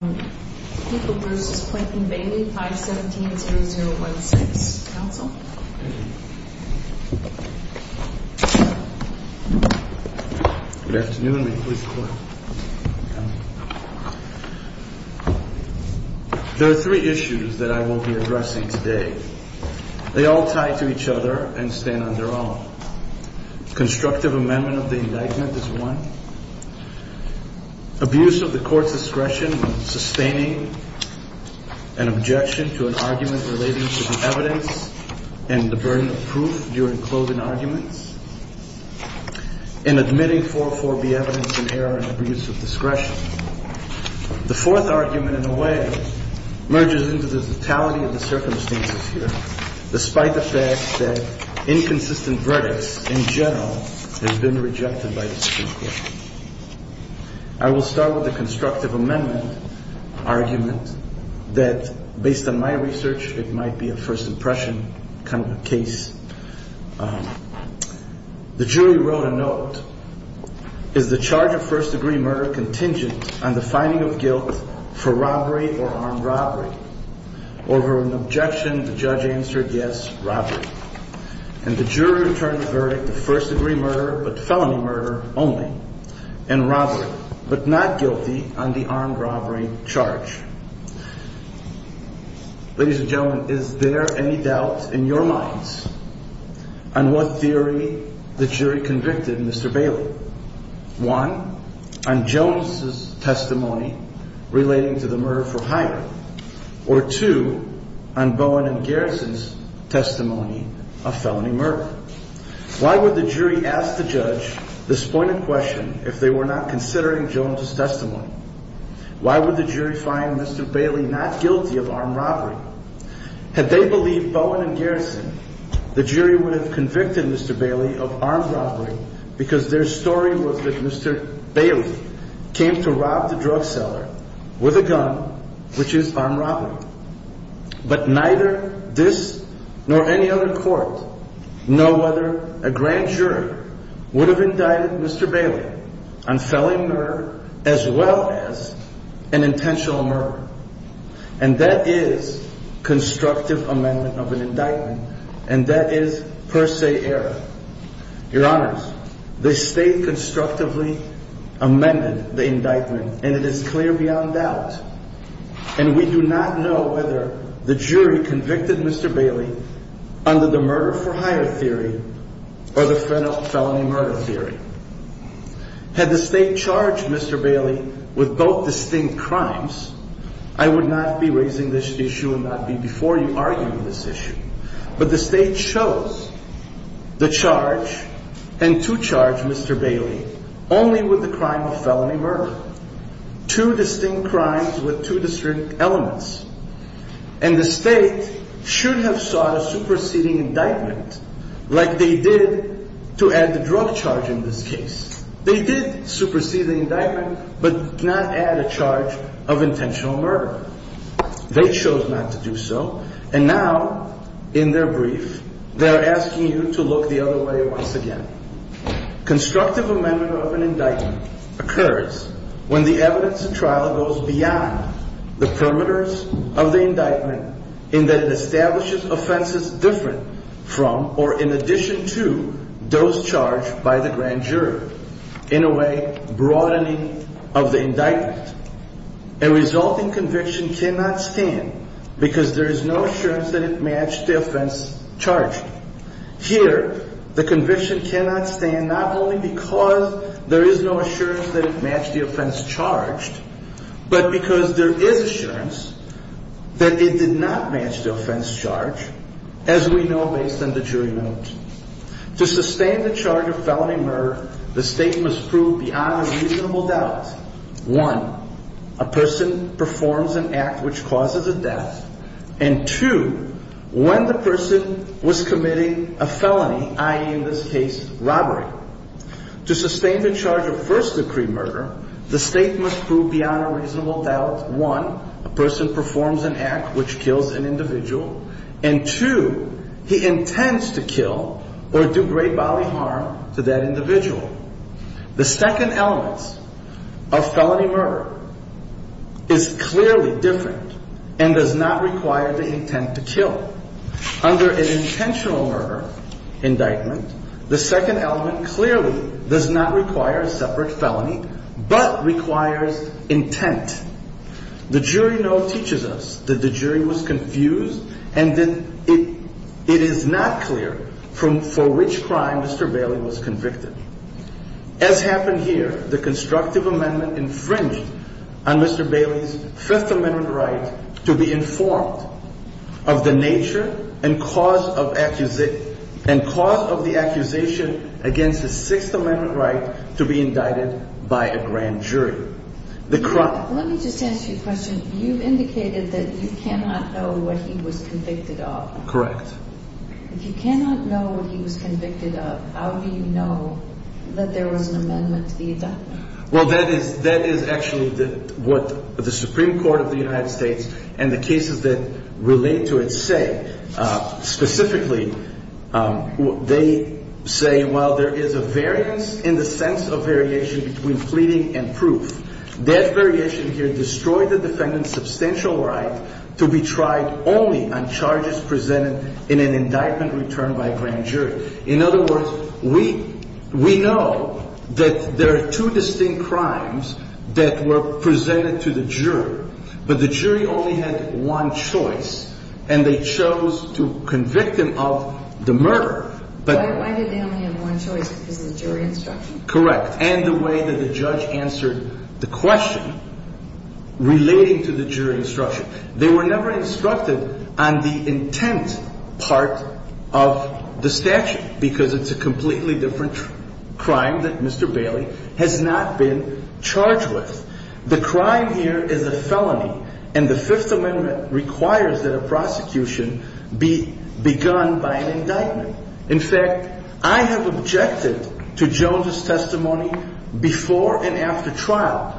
There are three issues that I will be addressing today. They all tie to each other and stand on their own. Constructive amendment of the indictment is one. Abuse of the court's discretion when sustaining an objection to an argument relating to the evidence and the burden of proof during clothing arguments, and admitting 4.4b evidence in error and abuse of discretion. The fourth argument, in a way, merges into the totality of the circumstances here, despite the fact that inconsistent verdicts, in general, have been rejected by the Supreme Court. I will start with the constructive amendment argument that, based on my research, it might be a first impression kind of a case. The jury wrote a note. Is the charge of first degree murder contingent on the finding of guilt for robbery or armed robbery? Over an objection, the judge answered yes, robbery. And the jury returned the verdict of first degree murder only, and robbery, but not guilty on the armed robbery charge. Ladies and gentlemen, is there any doubt in your minds on what theory the jury convicted Mr. Bailey? One, on Jones' testimony relating to the murder for hire, or two, on Bowen and Garrison, this point in question, if they were not considering Jones' testimony, why would the jury find Mr. Bailey not guilty of armed robbery? Had they believed Bowen and Garrison, the jury would have convicted Mr. Bailey of armed robbery because their story was that Mr. Bailey came to rob the drug seller with a gun, which is armed robbery. But neither this nor any other court know whether a grand jury would have indicted Mr. Bailey on felony murder as well as an intentional murder. And that is constructive amendment of an indictment, and that is per se error. Your Honors, the state constructively amended the indictment to show whether the jury convicted Mr. Bailey under the murder for hire theory or the felony murder theory. Had the state charged Mr. Bailey with both distinct crimes, I would not be raising this issue and not be before you arguing this issue. But the state chose the charge and to charge Mr. Bailey only with the crime of felony murder. Two distinct crimes with two distinct elements. And the state should have sought a superseding indictment like they did to add the drug charge in this case. They did supersede the indictment but not add a charge of intentional murder. They chose not to do so. And now, in their brief, they are asking you to look the other way once again. Constructive amendment of an indictment occurs when the evidence trial goes beyond the perimeters of the indictment in that it establishes offenses different from or in addition to those charged by the grand jury. In a way, broadening of the indictment. A resulting conviction cannot stand because there is no assurance that it matched the offense charged. Here, the conviction cannot stand not only because there is no assurance that it matched the offense charged, but because there is assurance that it did not match the offense charge, as we know based on the jury note. To sustain the charge of felony murder, the state must prove beyond a reasonable doubt, one, a person performs an act which causes a death, and two, when the person was committing a felony, i.e., in this case, robbery. To sustain the charge of first-degree murder, the state must prove beyond a reasonable doubt, one, a person performs an act which kills an individual, and two, he intends to kill or do great bodily harm to that individual. The second element of felony murder is clearly different and does not require the intent to kill. Under an intentional murder indictment, the second element clearly does not require a separate felony, but requires intent. The jury note teaches us that the jury was confused and that it is not clear for which crime Mr. Bailey was convicted. As happened here, the constructive amendment infringed on Mr. Bailey's Fifth Amendment right to be informed of the nature and cause of the accusation against the Sixth Amendment right to be indicted by a grand jury. Let me just ask you a question. You indicated that you cannot know what he was convicted of. Correct. If you cannot know what he was convicted of, how do you know that there was an amendment to the indictment? Well, that is actually what the Supreme Court of the United States and the cases that relate to it say. Specifically, they say, well, there is a variance in the sense of variation between pleading and proof. That variation here destroyed the defendant's substantial right to be tried only on charges presented in an indictment returned by a grand jury. In other words, we know that there are two distinct crimes that were presented to the jury, but the jury only had one choice, and they chose to convict him of the murder. But why did they only have one choice? Because of the jury instruction? Correct. And the way that the judge answered the question relating to the jury instruction, they were never instructed on the intent part of the statute, because it's a completely different crime that Mr. Bailey has not been charged with. The crime here is a felony, and the Fifth Amendment requires that a prosecution be begun by an indictment. In fact, I have objected to Jones's testimony before and after trial.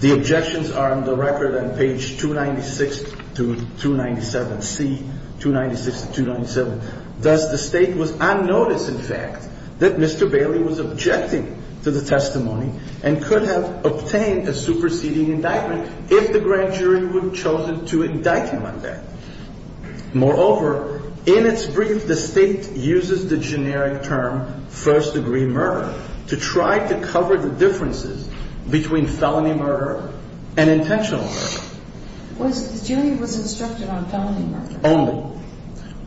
The objections are on the record on page 296 to 297C, 296 to 297. Thus, the State was on notice, in fact, that Mr. Bailey was objecting to the testimony and could have obtained a superseding indictment if the grand jury would have chosen to indict him on that. Moreover, in its brief, the State uses the generic term first-degree murder to try to cover the differences between felony murder and intentional murder. Was the jury instructed on felony murder? Only.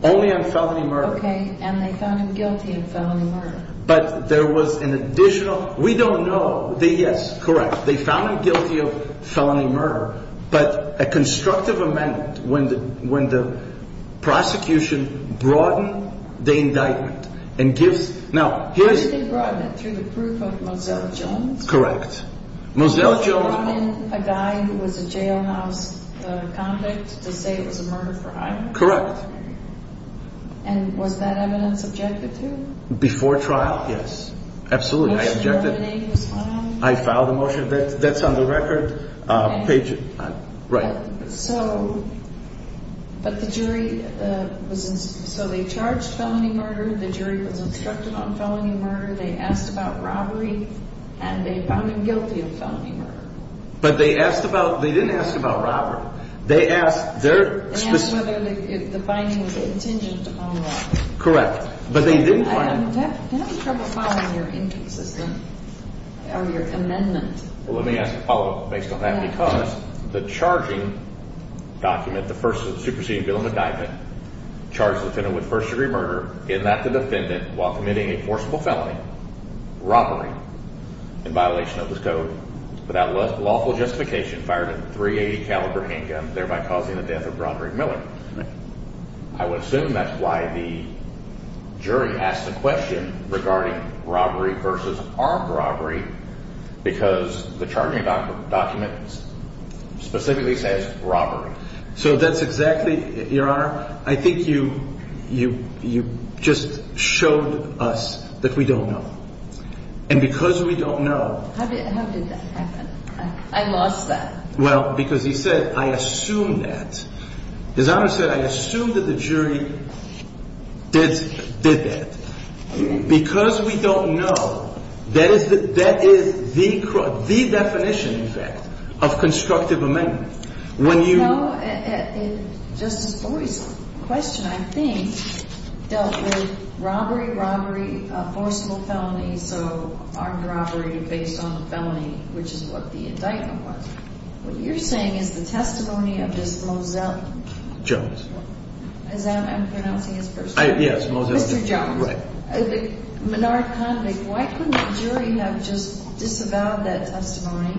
Only on felony murder. Okay, and they found him guilty of felony murder. But there was an additional, we don't know, yes, correct, they found him guilty of felony murder, but a constructive amendment when the prosecution broadened the indictment and gives, now, here's... They broadened it through the proof of Moselle Jones? Correct. Moselle Jones... Did they brought in a guy who was a jailhouse convict to say it was a murder for hire? Correct. And was that evidence objected to? Before trial, yes. Absolutely, I objected. Motion to eliminate was filed? I filed a motion, that's on the record, page, right. So, but the jury was, so they charged felony murder, the jury was instructed on felony murder, they asked about robbery, and they found him guilty of felony murder. But they asked about, they didn't ask about robbery, they asked their... They asked whether the finding was contingent on robbery. Correct, but they didn't find... I'm having trouble following your inconsistent, or your amendment. Well, let me ask Apollo, based on that, because the charging document, the first superseding bill of indictment, charged the defendant with first degree murder, in that the defendant, while committing a forcible felony, robbery, in violation of this code, without lawful justification, fired a .380 caliber handgun, thereby causing the death of Roderick Miller. I would assume that's why the jury asked the question regarding robbery versus armed robbery, because the charging document specifically says robbery. So that's exactly, Your Honor, I think you just showed us that we don't know. And because we don't know... How did that happen? I lost that. Well, because he said, I assume that. His Honor said, I assume that the jury did that. Because we don't know, that is the definition, in fact, of constructive amendment. When you... No, Justice Flory's question, I think, dealt with robbery, robbery, a forcible felony, so armed robbery based on the felony, which is what the indictment was. What you're saying is the testimony of this Moselle... Jones. Is that... I'm pronouncing his first name? Yes, Moselle... Mr. Jones. The Menard convict, why couldn't the jury have just disavowed that testimony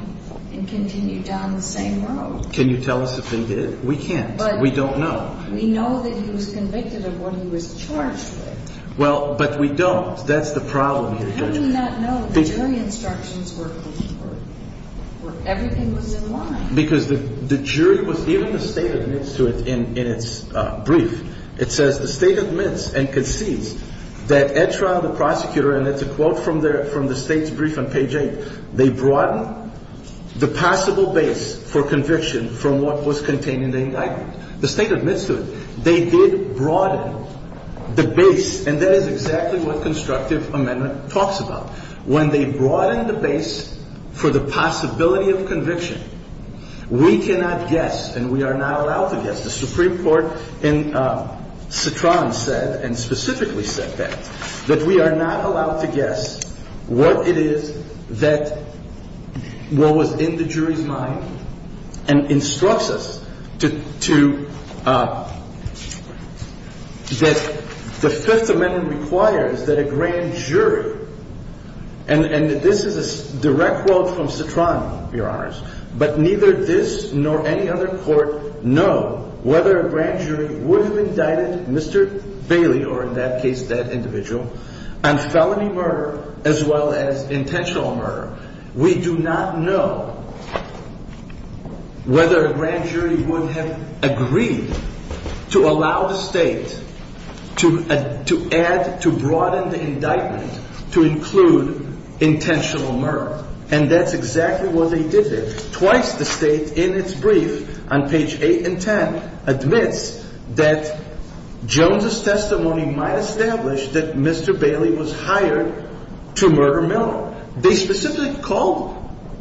and continued down the same road? Can you tell us if they did? We can't. We don't know. We know that he was convicted of what he was charged with. Well, but we don't. That's the problem here, Judge. How do we not know the jury instructions were... everything was in line? Because the jury was... even the State admits to it in its brief. It says the State admits and concedes that at trial, the prosecutor, and it's a quote from the State's brief on page eight, they broaden the possible base for conviction from what was contained in the indictment. The State admits to it. They did broaden the base, and that is exactly what constructive amendment talks about. When they broaden the base for the possibility of conviction, we cannot guess and we are not allowed to guess. The Supreme Court in Citron said, and specifically said that, that we are not allowed to guess what it is that... what was in the jury's mind and instructs us to... that the Fifth Amendment requires that a grand jury, and this is a direct quote from Citron, Your Honors, but neither this nor any other court know whether a grand jury would have indicted Mr. Bailey, or in that case, that individual, on felony murder as well as intentional murder. We do not know whether a grand jury would have agreed to allow the State to add... to broaden the indictment to include intentional murder, and that's exactly what they did there. Twice the State, in its brief on page eight and ten, admits that Jones's testimony might establish that Mr. Bailey was hired to murder Miller. They specifically called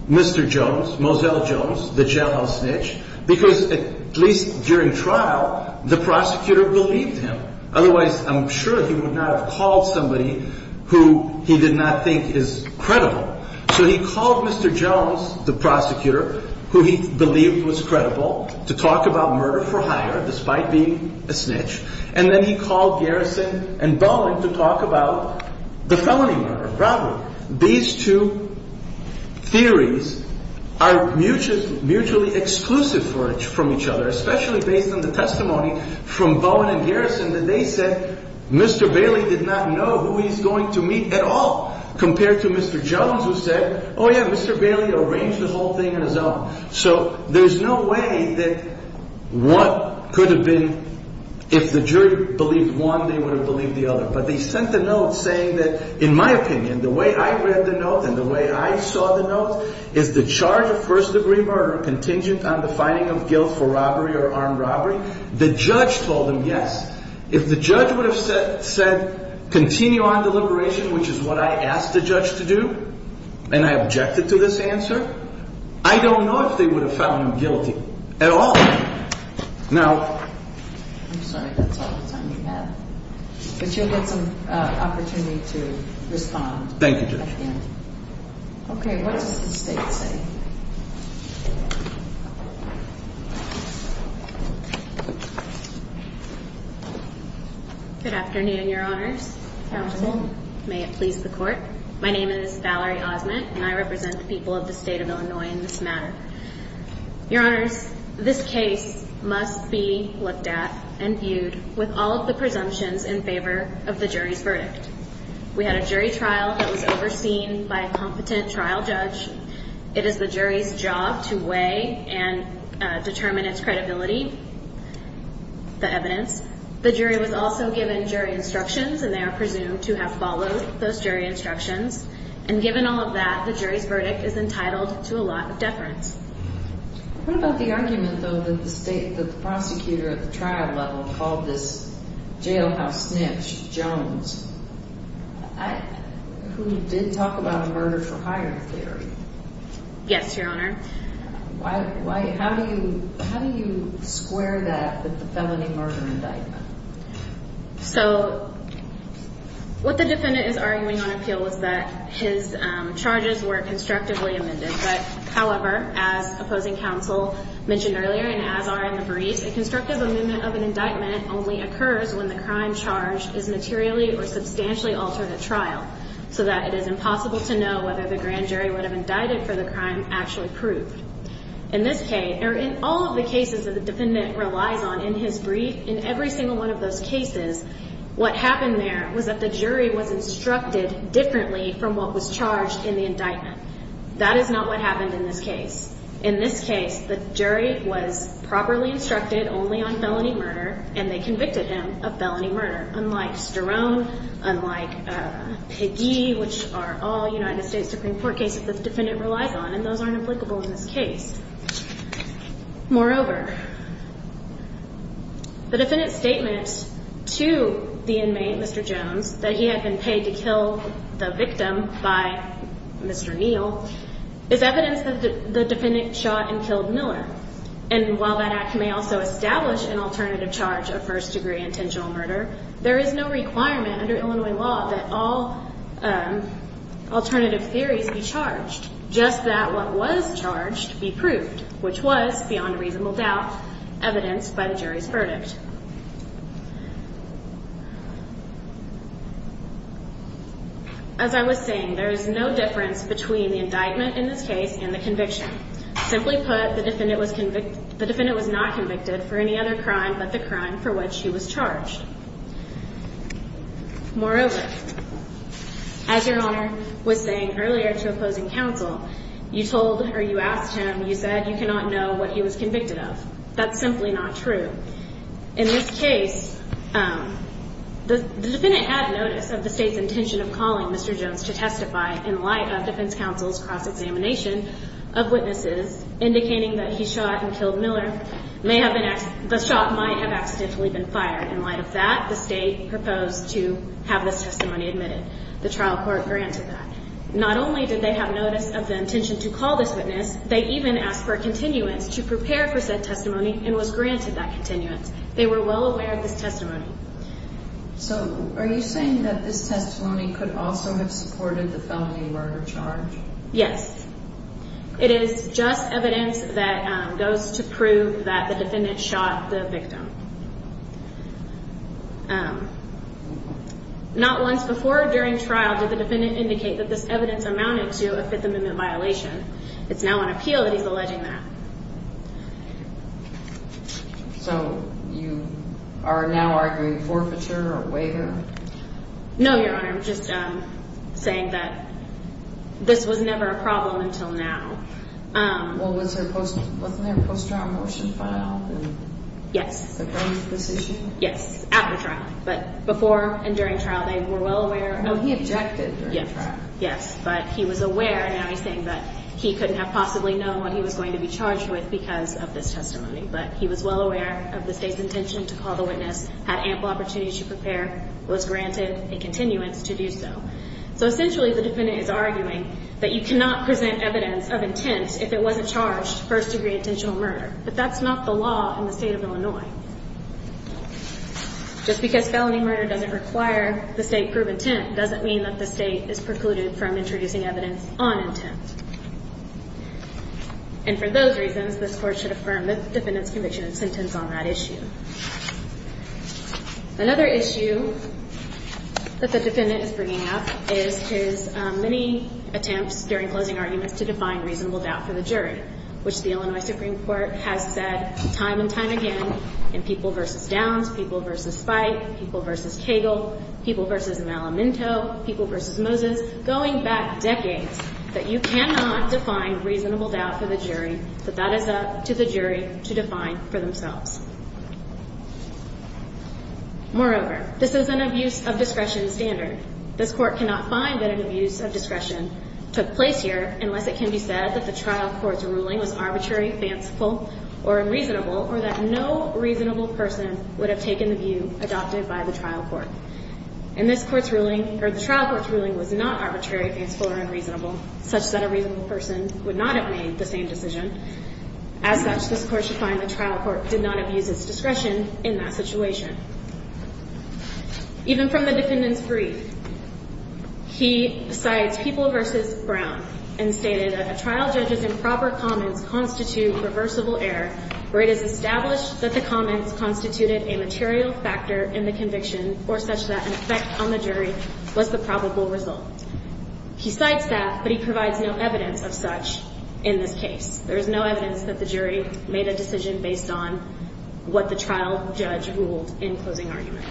Mr. Jones, Mozelle Jones, the jailhouse snitch, because at least during trial, the prosecutor believed him. Otherwise, I'm sure he would not have called somebody who he did not think is credible. So he called Mr. Jones, the prosecutor, who he believed was credible, to talk about murder for hire, despite being a snitch, and then he called Garrison and Bowen to talk about the felony murder. Probably these two theories are mutually exclusive from each other, especially based on the testimony from Bowen and Garrison, that they said Mr. Bailey did not know who he's going to meet at all compared to Mr. Jones, who said, oh yeah, Mr. Bailey arranged the whole thing on his own. So there's no way that one could have been... If the jury believed one, they would have believed the other, but they sent the note saying that, in my opinion, the way I read the note and the way I saw the note is the charge of first degree murder contingent on the finding of guilt for robbery or armed robbery. The judge told them yes. If the judge would have said continue on the liberation, which is what I asked the judge to do, and I objected to this answer, I don't know if they would have found him guilty at all. Now... I'm sorry, that's all the time you have. But you'll get some opportunity to respond. Thank you, Judge. Okay, what does the state say? Good afternoon, your honors. Counsel. May it please the court. My name is Valerie Osment, and I represent the people of the state of Illinois in this matter. Your honors, this case must be looked at and viewed with all of the presumptions in favor of the jury's verdict. We had a jury trial that was overseen by a competent trial judge. It is the jury's job to weigh and determine its credibility, the evidence. The jury was also given jury instructions, and they are presumed to have followed those jury instructions. And given all of that, the jury's verdict is entitled to a lot of deference. What about the argument, though, that the state, that the prosecutor at the trial level called this jailhouse snitch, Jones, who did talk about a murder for hire theory? Yes, your honor. How do you square that with the felony murder indictment? So what the defendant is arguing on appeal is that his charges were constructively amended. But however, as opposing counsel mentioned earlier, and as are in the brief, a constructive amendment of an indictment only occurs when the crime charged is materially or substantially altered at trial, so that it is impossible to know whether the grand jury would have indicted for the crime actually proved. In this case, or in all of the cases that the defendant relies on in his brief, in every single one of those cases, what happened there was that the jury was instructed differently from what was charged in the indictment. That is not what happened in this case. In this case, the jury was properly instructed only on felony murder, and they convicted him of felony murder, unlike Sterone, unlike Peggy, which are all United States Supreme Court cases the defendant relies on, and those aren't applicable in this case. Moreover, the defendant's statement to the inmate, Mr. Jones, that he had been paid to kill the victim by Mr. Neal is evidence that the defendant shot and killed Miller. And while that act may also establish an alternative charge of first-degree intentional murder, there is no requirement under Illinois law that all alternative theories be charged, just that what was charged be proved, which was, beyond reasonable doubt, evidenced by the jury's verdict. As I was saying, there is no difference between the indictment in this case and the conviction. Simply put, the defendant was not convicted for any other crime but the crime for which he was charged. Moreover, as Your Honor was saying earlier to opposing counsel, you told, or you asked him, you said you cannot know what he was convicted of. That's simply not true. In this case, the defendant had notice of the state's intention of calling Mr. Jones to testify in light of defense counsel's cross-examination of witnesses indicating that he shot and killed Miller. The shot might have accidentally been fired in light of that. The state proposed to have this testimony admitted. The trial court granted that. Not only did they have notice of the intention to call this witness, they even asked for a continuance to prepare for said testimony and was granted that continuance. They were well aware of this testimony. So are you saying that this testimony could also have supported the felony murder charge? Yes. It is just evidence that goes to prove that the defendant shot the victim. Um, not once before or during trial did the defendant indicate that this evidence amounted to a Fifth Amendment violation. It's now on appeal that he's alleging that. So you are now arguing forfeiture or waiver? No, Your Honor. I'm just saying that this was never a problem until now. Well, wasn't there a post-trial motion filed? Yes. Yes, at the trial. But before and during trial, they were well aware. No, he objected during trial. Yes, but he was aware. Now he's saying that he couldn't have possibly known what he was going to be charged with because of this testimony. But he was well aware of the state's intention to call the witness, had ample opportunity to prepare, was granted a continuance to do so. So essentially, the defendant is arguing that you cannot present evidence of intent if it wasn't charged first-degree intentional murder. But that's not the law in the state of Illinois. Just because felony murder doesn't require the state prove intent doesn't mean that the state is precluded from introducing evidence on intent. And for those reasons, this court should affirm the defendant's conviction and sentence on that issue. Another issue that the defendant is bringing up is his many attempts during closing arguments to define reasonable doubt for the jury, which the Illinois Supreme Court has said time and time again in People v. Downs, People v. Spike, People v. Cagle, People v. Malamento, People v. Moses, going back decades, that you cannot define reasonable doubt for the jury, but that is up to the jury to define for themselves. Moreover, this is an abuse of discretion standard. This court cannot find that an abuse of discretion took place here unless it can be said that the trial court's ruling was arbitrary, fanciful, or unreasonable, or that no reasonable person would have taken the view adopted by the trial court. And this court's ruling, or the trial court's ruling, was not arbitrary, fanciful, or unreasonable, such that a reasonable person would not have made the same decision. As such, this court should find the trial court did not abuse its discretion in that situation. Even from the defendant's brief, he cites People v. Brown and stated that a trial judge's improper comments constitute reversible error, where it is established that the comments constituted a material factor in the conviction, or such that an effect on the jury was the probable result. He cites that, but he provides no evidence of such in this case. There is no evidence that the jury made a decision based on what the trial judge ruled in closing argument.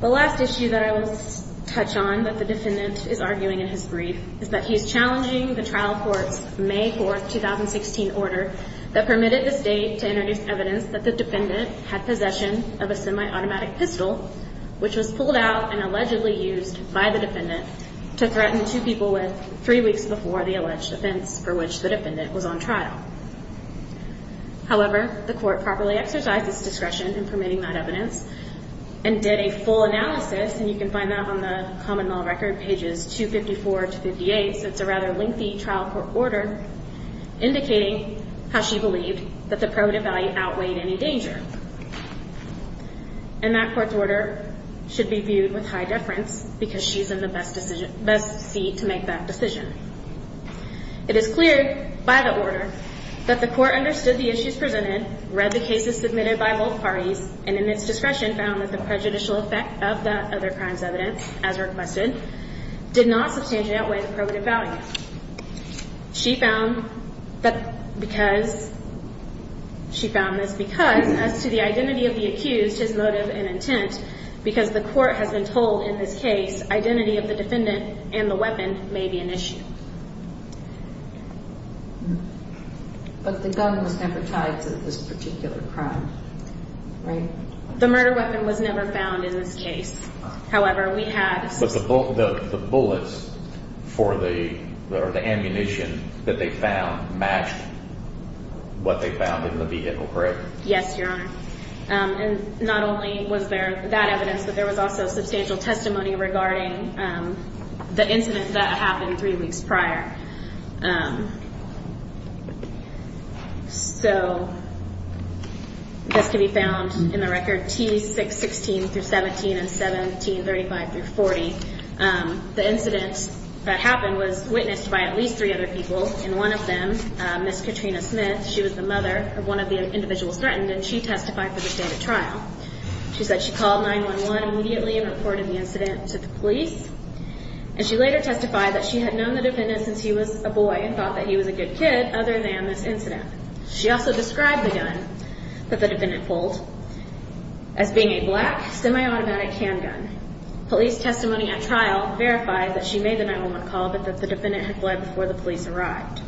The last issue that I will touch on that the defendant is arguing in his brief is that he is challenging the trial court's May 4, 2016, order that permitted the state to introduce evidence that the defendant had possession of a semi-automatic pistol, which was pulled out and allegedly used by the defendant to threaten two people with three weeks before the alleged offense for which the defendant was on trial. However, the court properly exercised its discretion in permitting that evidence and did a full analysis, and you can find that on the common law record, pages 254 to 58, so it's a rather lengthy trial court order indicating how she believed that the primitive value outweighed any danger. And that court's order should be viewed with high deference because she's in the best seat to make that decision. It is clear by the order that the court understood the issues presented, read the cases submitted by both parties, and in its discretion found that the prejudicial effect of that other crime's evidence, as requested, did not substantially outweigh the primitive value. She found that because... She found this because, as to the identity of the accused, his motive and intent, because the court has been told in this case identity of the defendant and the weapon may be an issue. But the gun was never tied to this particular crime, right? The murder weapon was never found in this case. However, we had... But the bullets for the ammunition that they found matched what they found in the vehicle, correct? Yes, Your Honor. And not only was there that evidence, but there was also substantial testimony regarding the incident that happened three weeks prior. So, this can be found in the record T616-17 and 1735-40. The incident that happened was witnessed by at least three other people, and one of them, Ms. Katrina Smith, she was the mother of one of the individuals threatened, and she testified for the stated trial. She said she called 911 immediately and reported the incident to the police, and she later testified that she had known the defendant since he was a boy and thought that he was a good kid, other than this incident. She also described the gun that the defendant pulled as being a black semi-automatic handgun. Police testimony at trial verified that she made the 911 call, but that the defendant had fled before the police arrived.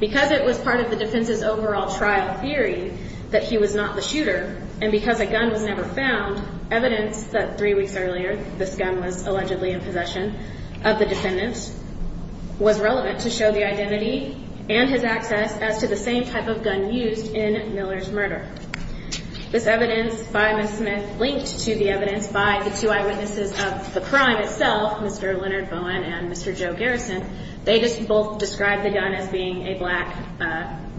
Because it was part of the defense's overall trial theory that he was not the shooter, and because a gun was never found, evidence that three weeks earlier, this gun was allegedly in possession of the defendant, was relevant to show the identity and his access as to the same type of gun used in Miller's murder. This evidence by Ms. Smith, linked to the evidence by the two eyewitnesses of the crime itself, Mr. Leonard Bowen and Mr. Joe Garrison, they just both described the gun as being a black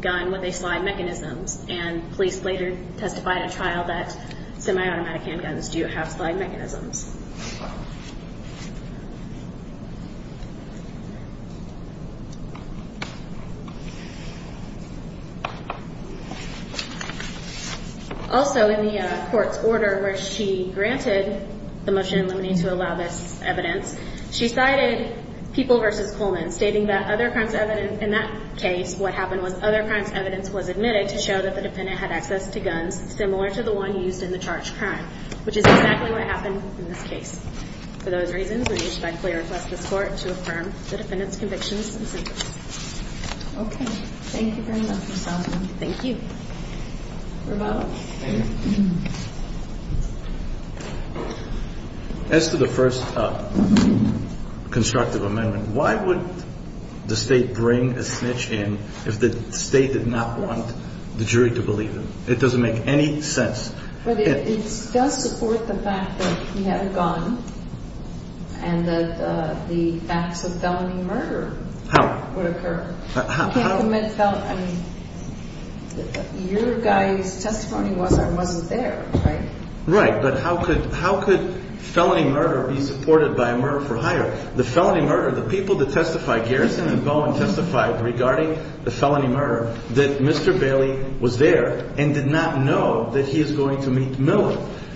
gun with a slide mechanism, and police later testified at trial that semi-automatic handguns do have slide mechanisms. Also, in the court's order where she granted the motion in limine to allow this evidence, she cited People v. Coleman, stating that other crimes evidence in that case, what happened was other crimes evidence was admitted to show that the defendant had access to guns similar to the one used in the charged crime, which is exactly what happened in this case. For those reasons, we respectfully request this court to affirm the defendant's conviction. Okay, thank you very much, Ms. Osmond. Thank you. As to the first constructive amendment, why would the state bring a snitch in if the state did not want the jury to believe them? It doesn't make any sense. It does support the fact that we have a gun and that the facts of felony murder would occur. You can't commit felony... I mean, your guy's testimony wasn't there, right? Right, but how could felony murder be supported by a murder for hire? The felony murder, the people that testify, Garrison and Bowen testified regarding the felony murder, that Mr. Bailey was there and did not know that he is going to meet Miller.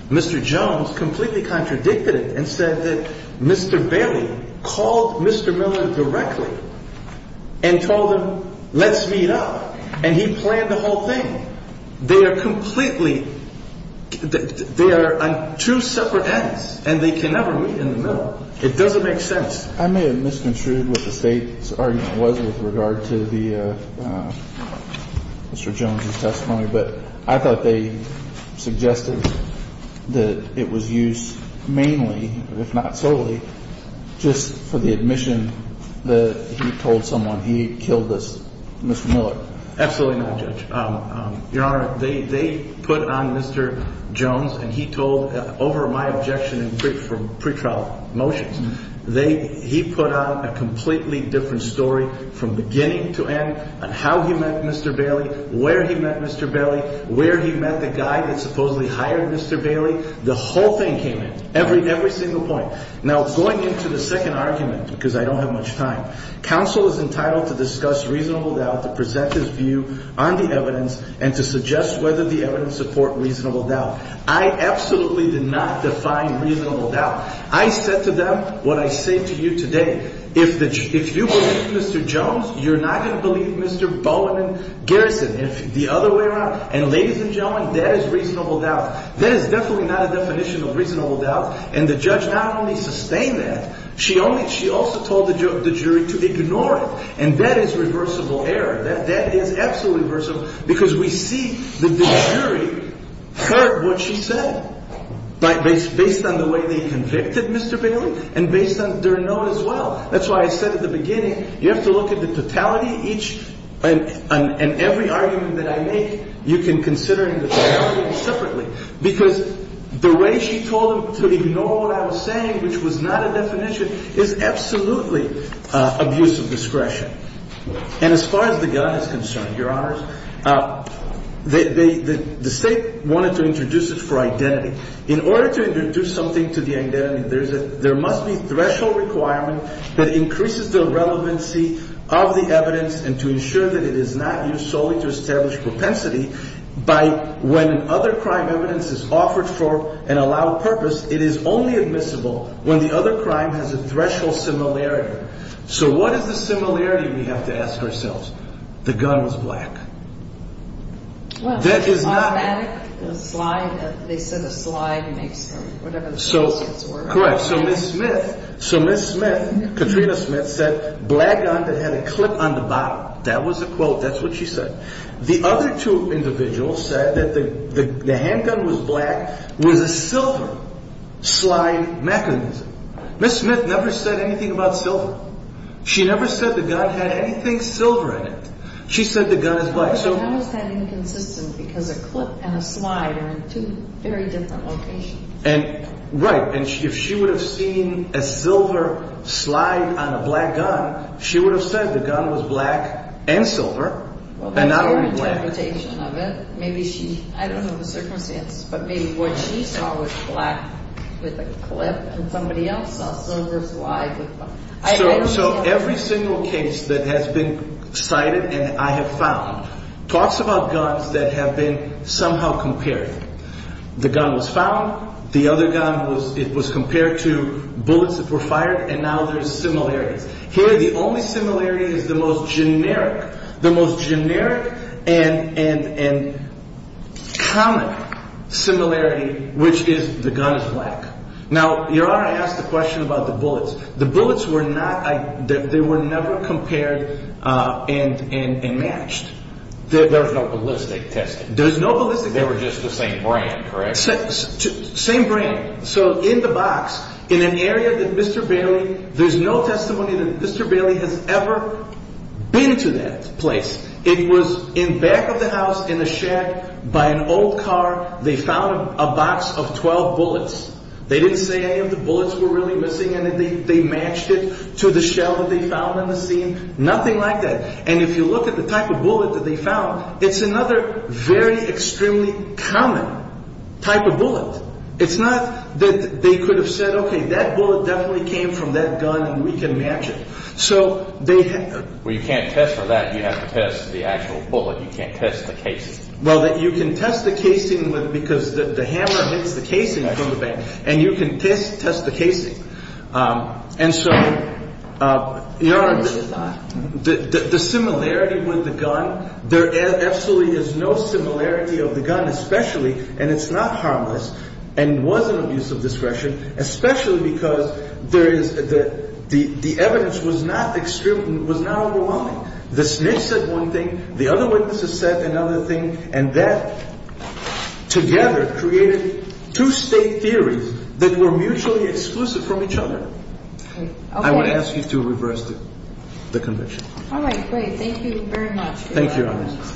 Mr. Jones completely contradicted it and said that Mr. Bailey called Mr. Miller directly and told him, let's meet up. And he planned the whole thing. They are completely... They are on two separate ends and they can never meet in the middle. It doesn't make sense. I may have misconstrued what the state's argument was with regard to Mr. Jones' testimony, but I thought they suggested that it was used mainly, if not solely, just for the admission that he told someone he killed Mr. Miller. Absolutely not, Judge. Your Honor, they put on Mr. Jones and he told over my objection in pre-trial motions, he put out a completely different story from beginning to end on how he met Mr. Bailey, where he met Mr. Bailey, where he met the guy that supposedly hired Mr. Bailey. The whole thing came in, every single point. Now, going into the second argument, because I don't have much time, counsel is entitled to discuss reasonable doubt, to present his view on the evidence and to suggest whether the evidence support reasonable doubt. I absolutely did not define reasonable doubt. I said to them what I say to you today, if you believe Mr. Jones, you're not gonna believe Mr. Bowen and Garrison. If the other way around, and ladies and gentlemen, that is reasonable doubt. That is definitely not a definition of reasonable doubt and the judge not only sustained that, she also told the jury to ignore it and that is reversible error. That is absolutely reversible because we see that the jury heard what she said, based on the way they convicted Mr. Bailey and based on their note as well. That's why I said at the beginning, you have to look at the totality each and every argument that I make, you can consider in the third argument separately because the way she told him to ignore what I was saying, which was not a definition, is absolutely abuse of discretion. And as far as the gun is concerned, Your Honors, the state wanted to introduce it for identity. In order to introduce something to the identity, there must be threshold requirement that increases the relevancy of the evidence and to ensure that it is not used solely to establish propensity by when other crime evidence is offered for an allowed purpose, it is only admissible when the other crime has a threshold similarity. So what is the similarity we have to ask ourselves? The gun was black. Well, that is not a slide. They said a slide makes them, whatever the associates were. Correct. So Ms. Smith, Katrina Smith said, black gun that had a clip on the bottom. That was a quote. That's what she said. The other two individuals said that the handgun was black, was a silver slide mechanism. Ms. Smith never said anything about silver. She never said the gun had anything silver in it. She said the gun is black. So that was inconsistent because a clip and a slide are in two very different locations. And right. And if she would have seen a silver slide on a black gun, she would have said the gun was black and silver. Well, that's your interpretation of it. Maybe she, I don't know the circumstance, but maybe what she saw was black with a clip and somebody else saw a silver slide. So every single case that has been cited and I have found talks about guns that have been somehow compared. The gun was found. The other gun was, it was compared to bullets that were fired. And now there's similarities here. The only similarity is the most generic, the most generic and common similarity, which is the gun is black. Now, you're asked the question about the bullets. The bullets were not, they were never compared and matched. There's no ballistic testing. There's no ballistic. They were just the same brand, correct? Same brand. So in the box in an area that Mr. Bailey, there's no testimony that Mr. Bailey has ever been to that place. It was in back of the house, in the shack by an old car. They found a box of 12 bullets. They didn't say any of the bullets were really missing. And they matched it to the shell that they found on the scene. Nothing like that. And if you look at the type of bullet that they found, it's another very extremely common type of bullet. It's not that they could have said, okay, that bullet definitely came from that gun and we can match it. So they had. Well, you can't test for that. You have to test the actual bullet. You can't test the casing. Well, you can test the casing because the hammer hits the casing from the back and you can test the casing. And so the similarity with the gun, there absolutely is no similarity of the gun, especially, and it's not harmless and wasn't abuse of discretion, especially because there is that the evidence was not extreme, was not overwhelming. The snitch said one thing, the other witnesses said another thing. And that together created two state theories that were mutually exclusive from each other. I would ask you to reverse the conviction. All right. Great. Thank you very much. Thank you, Your Honor.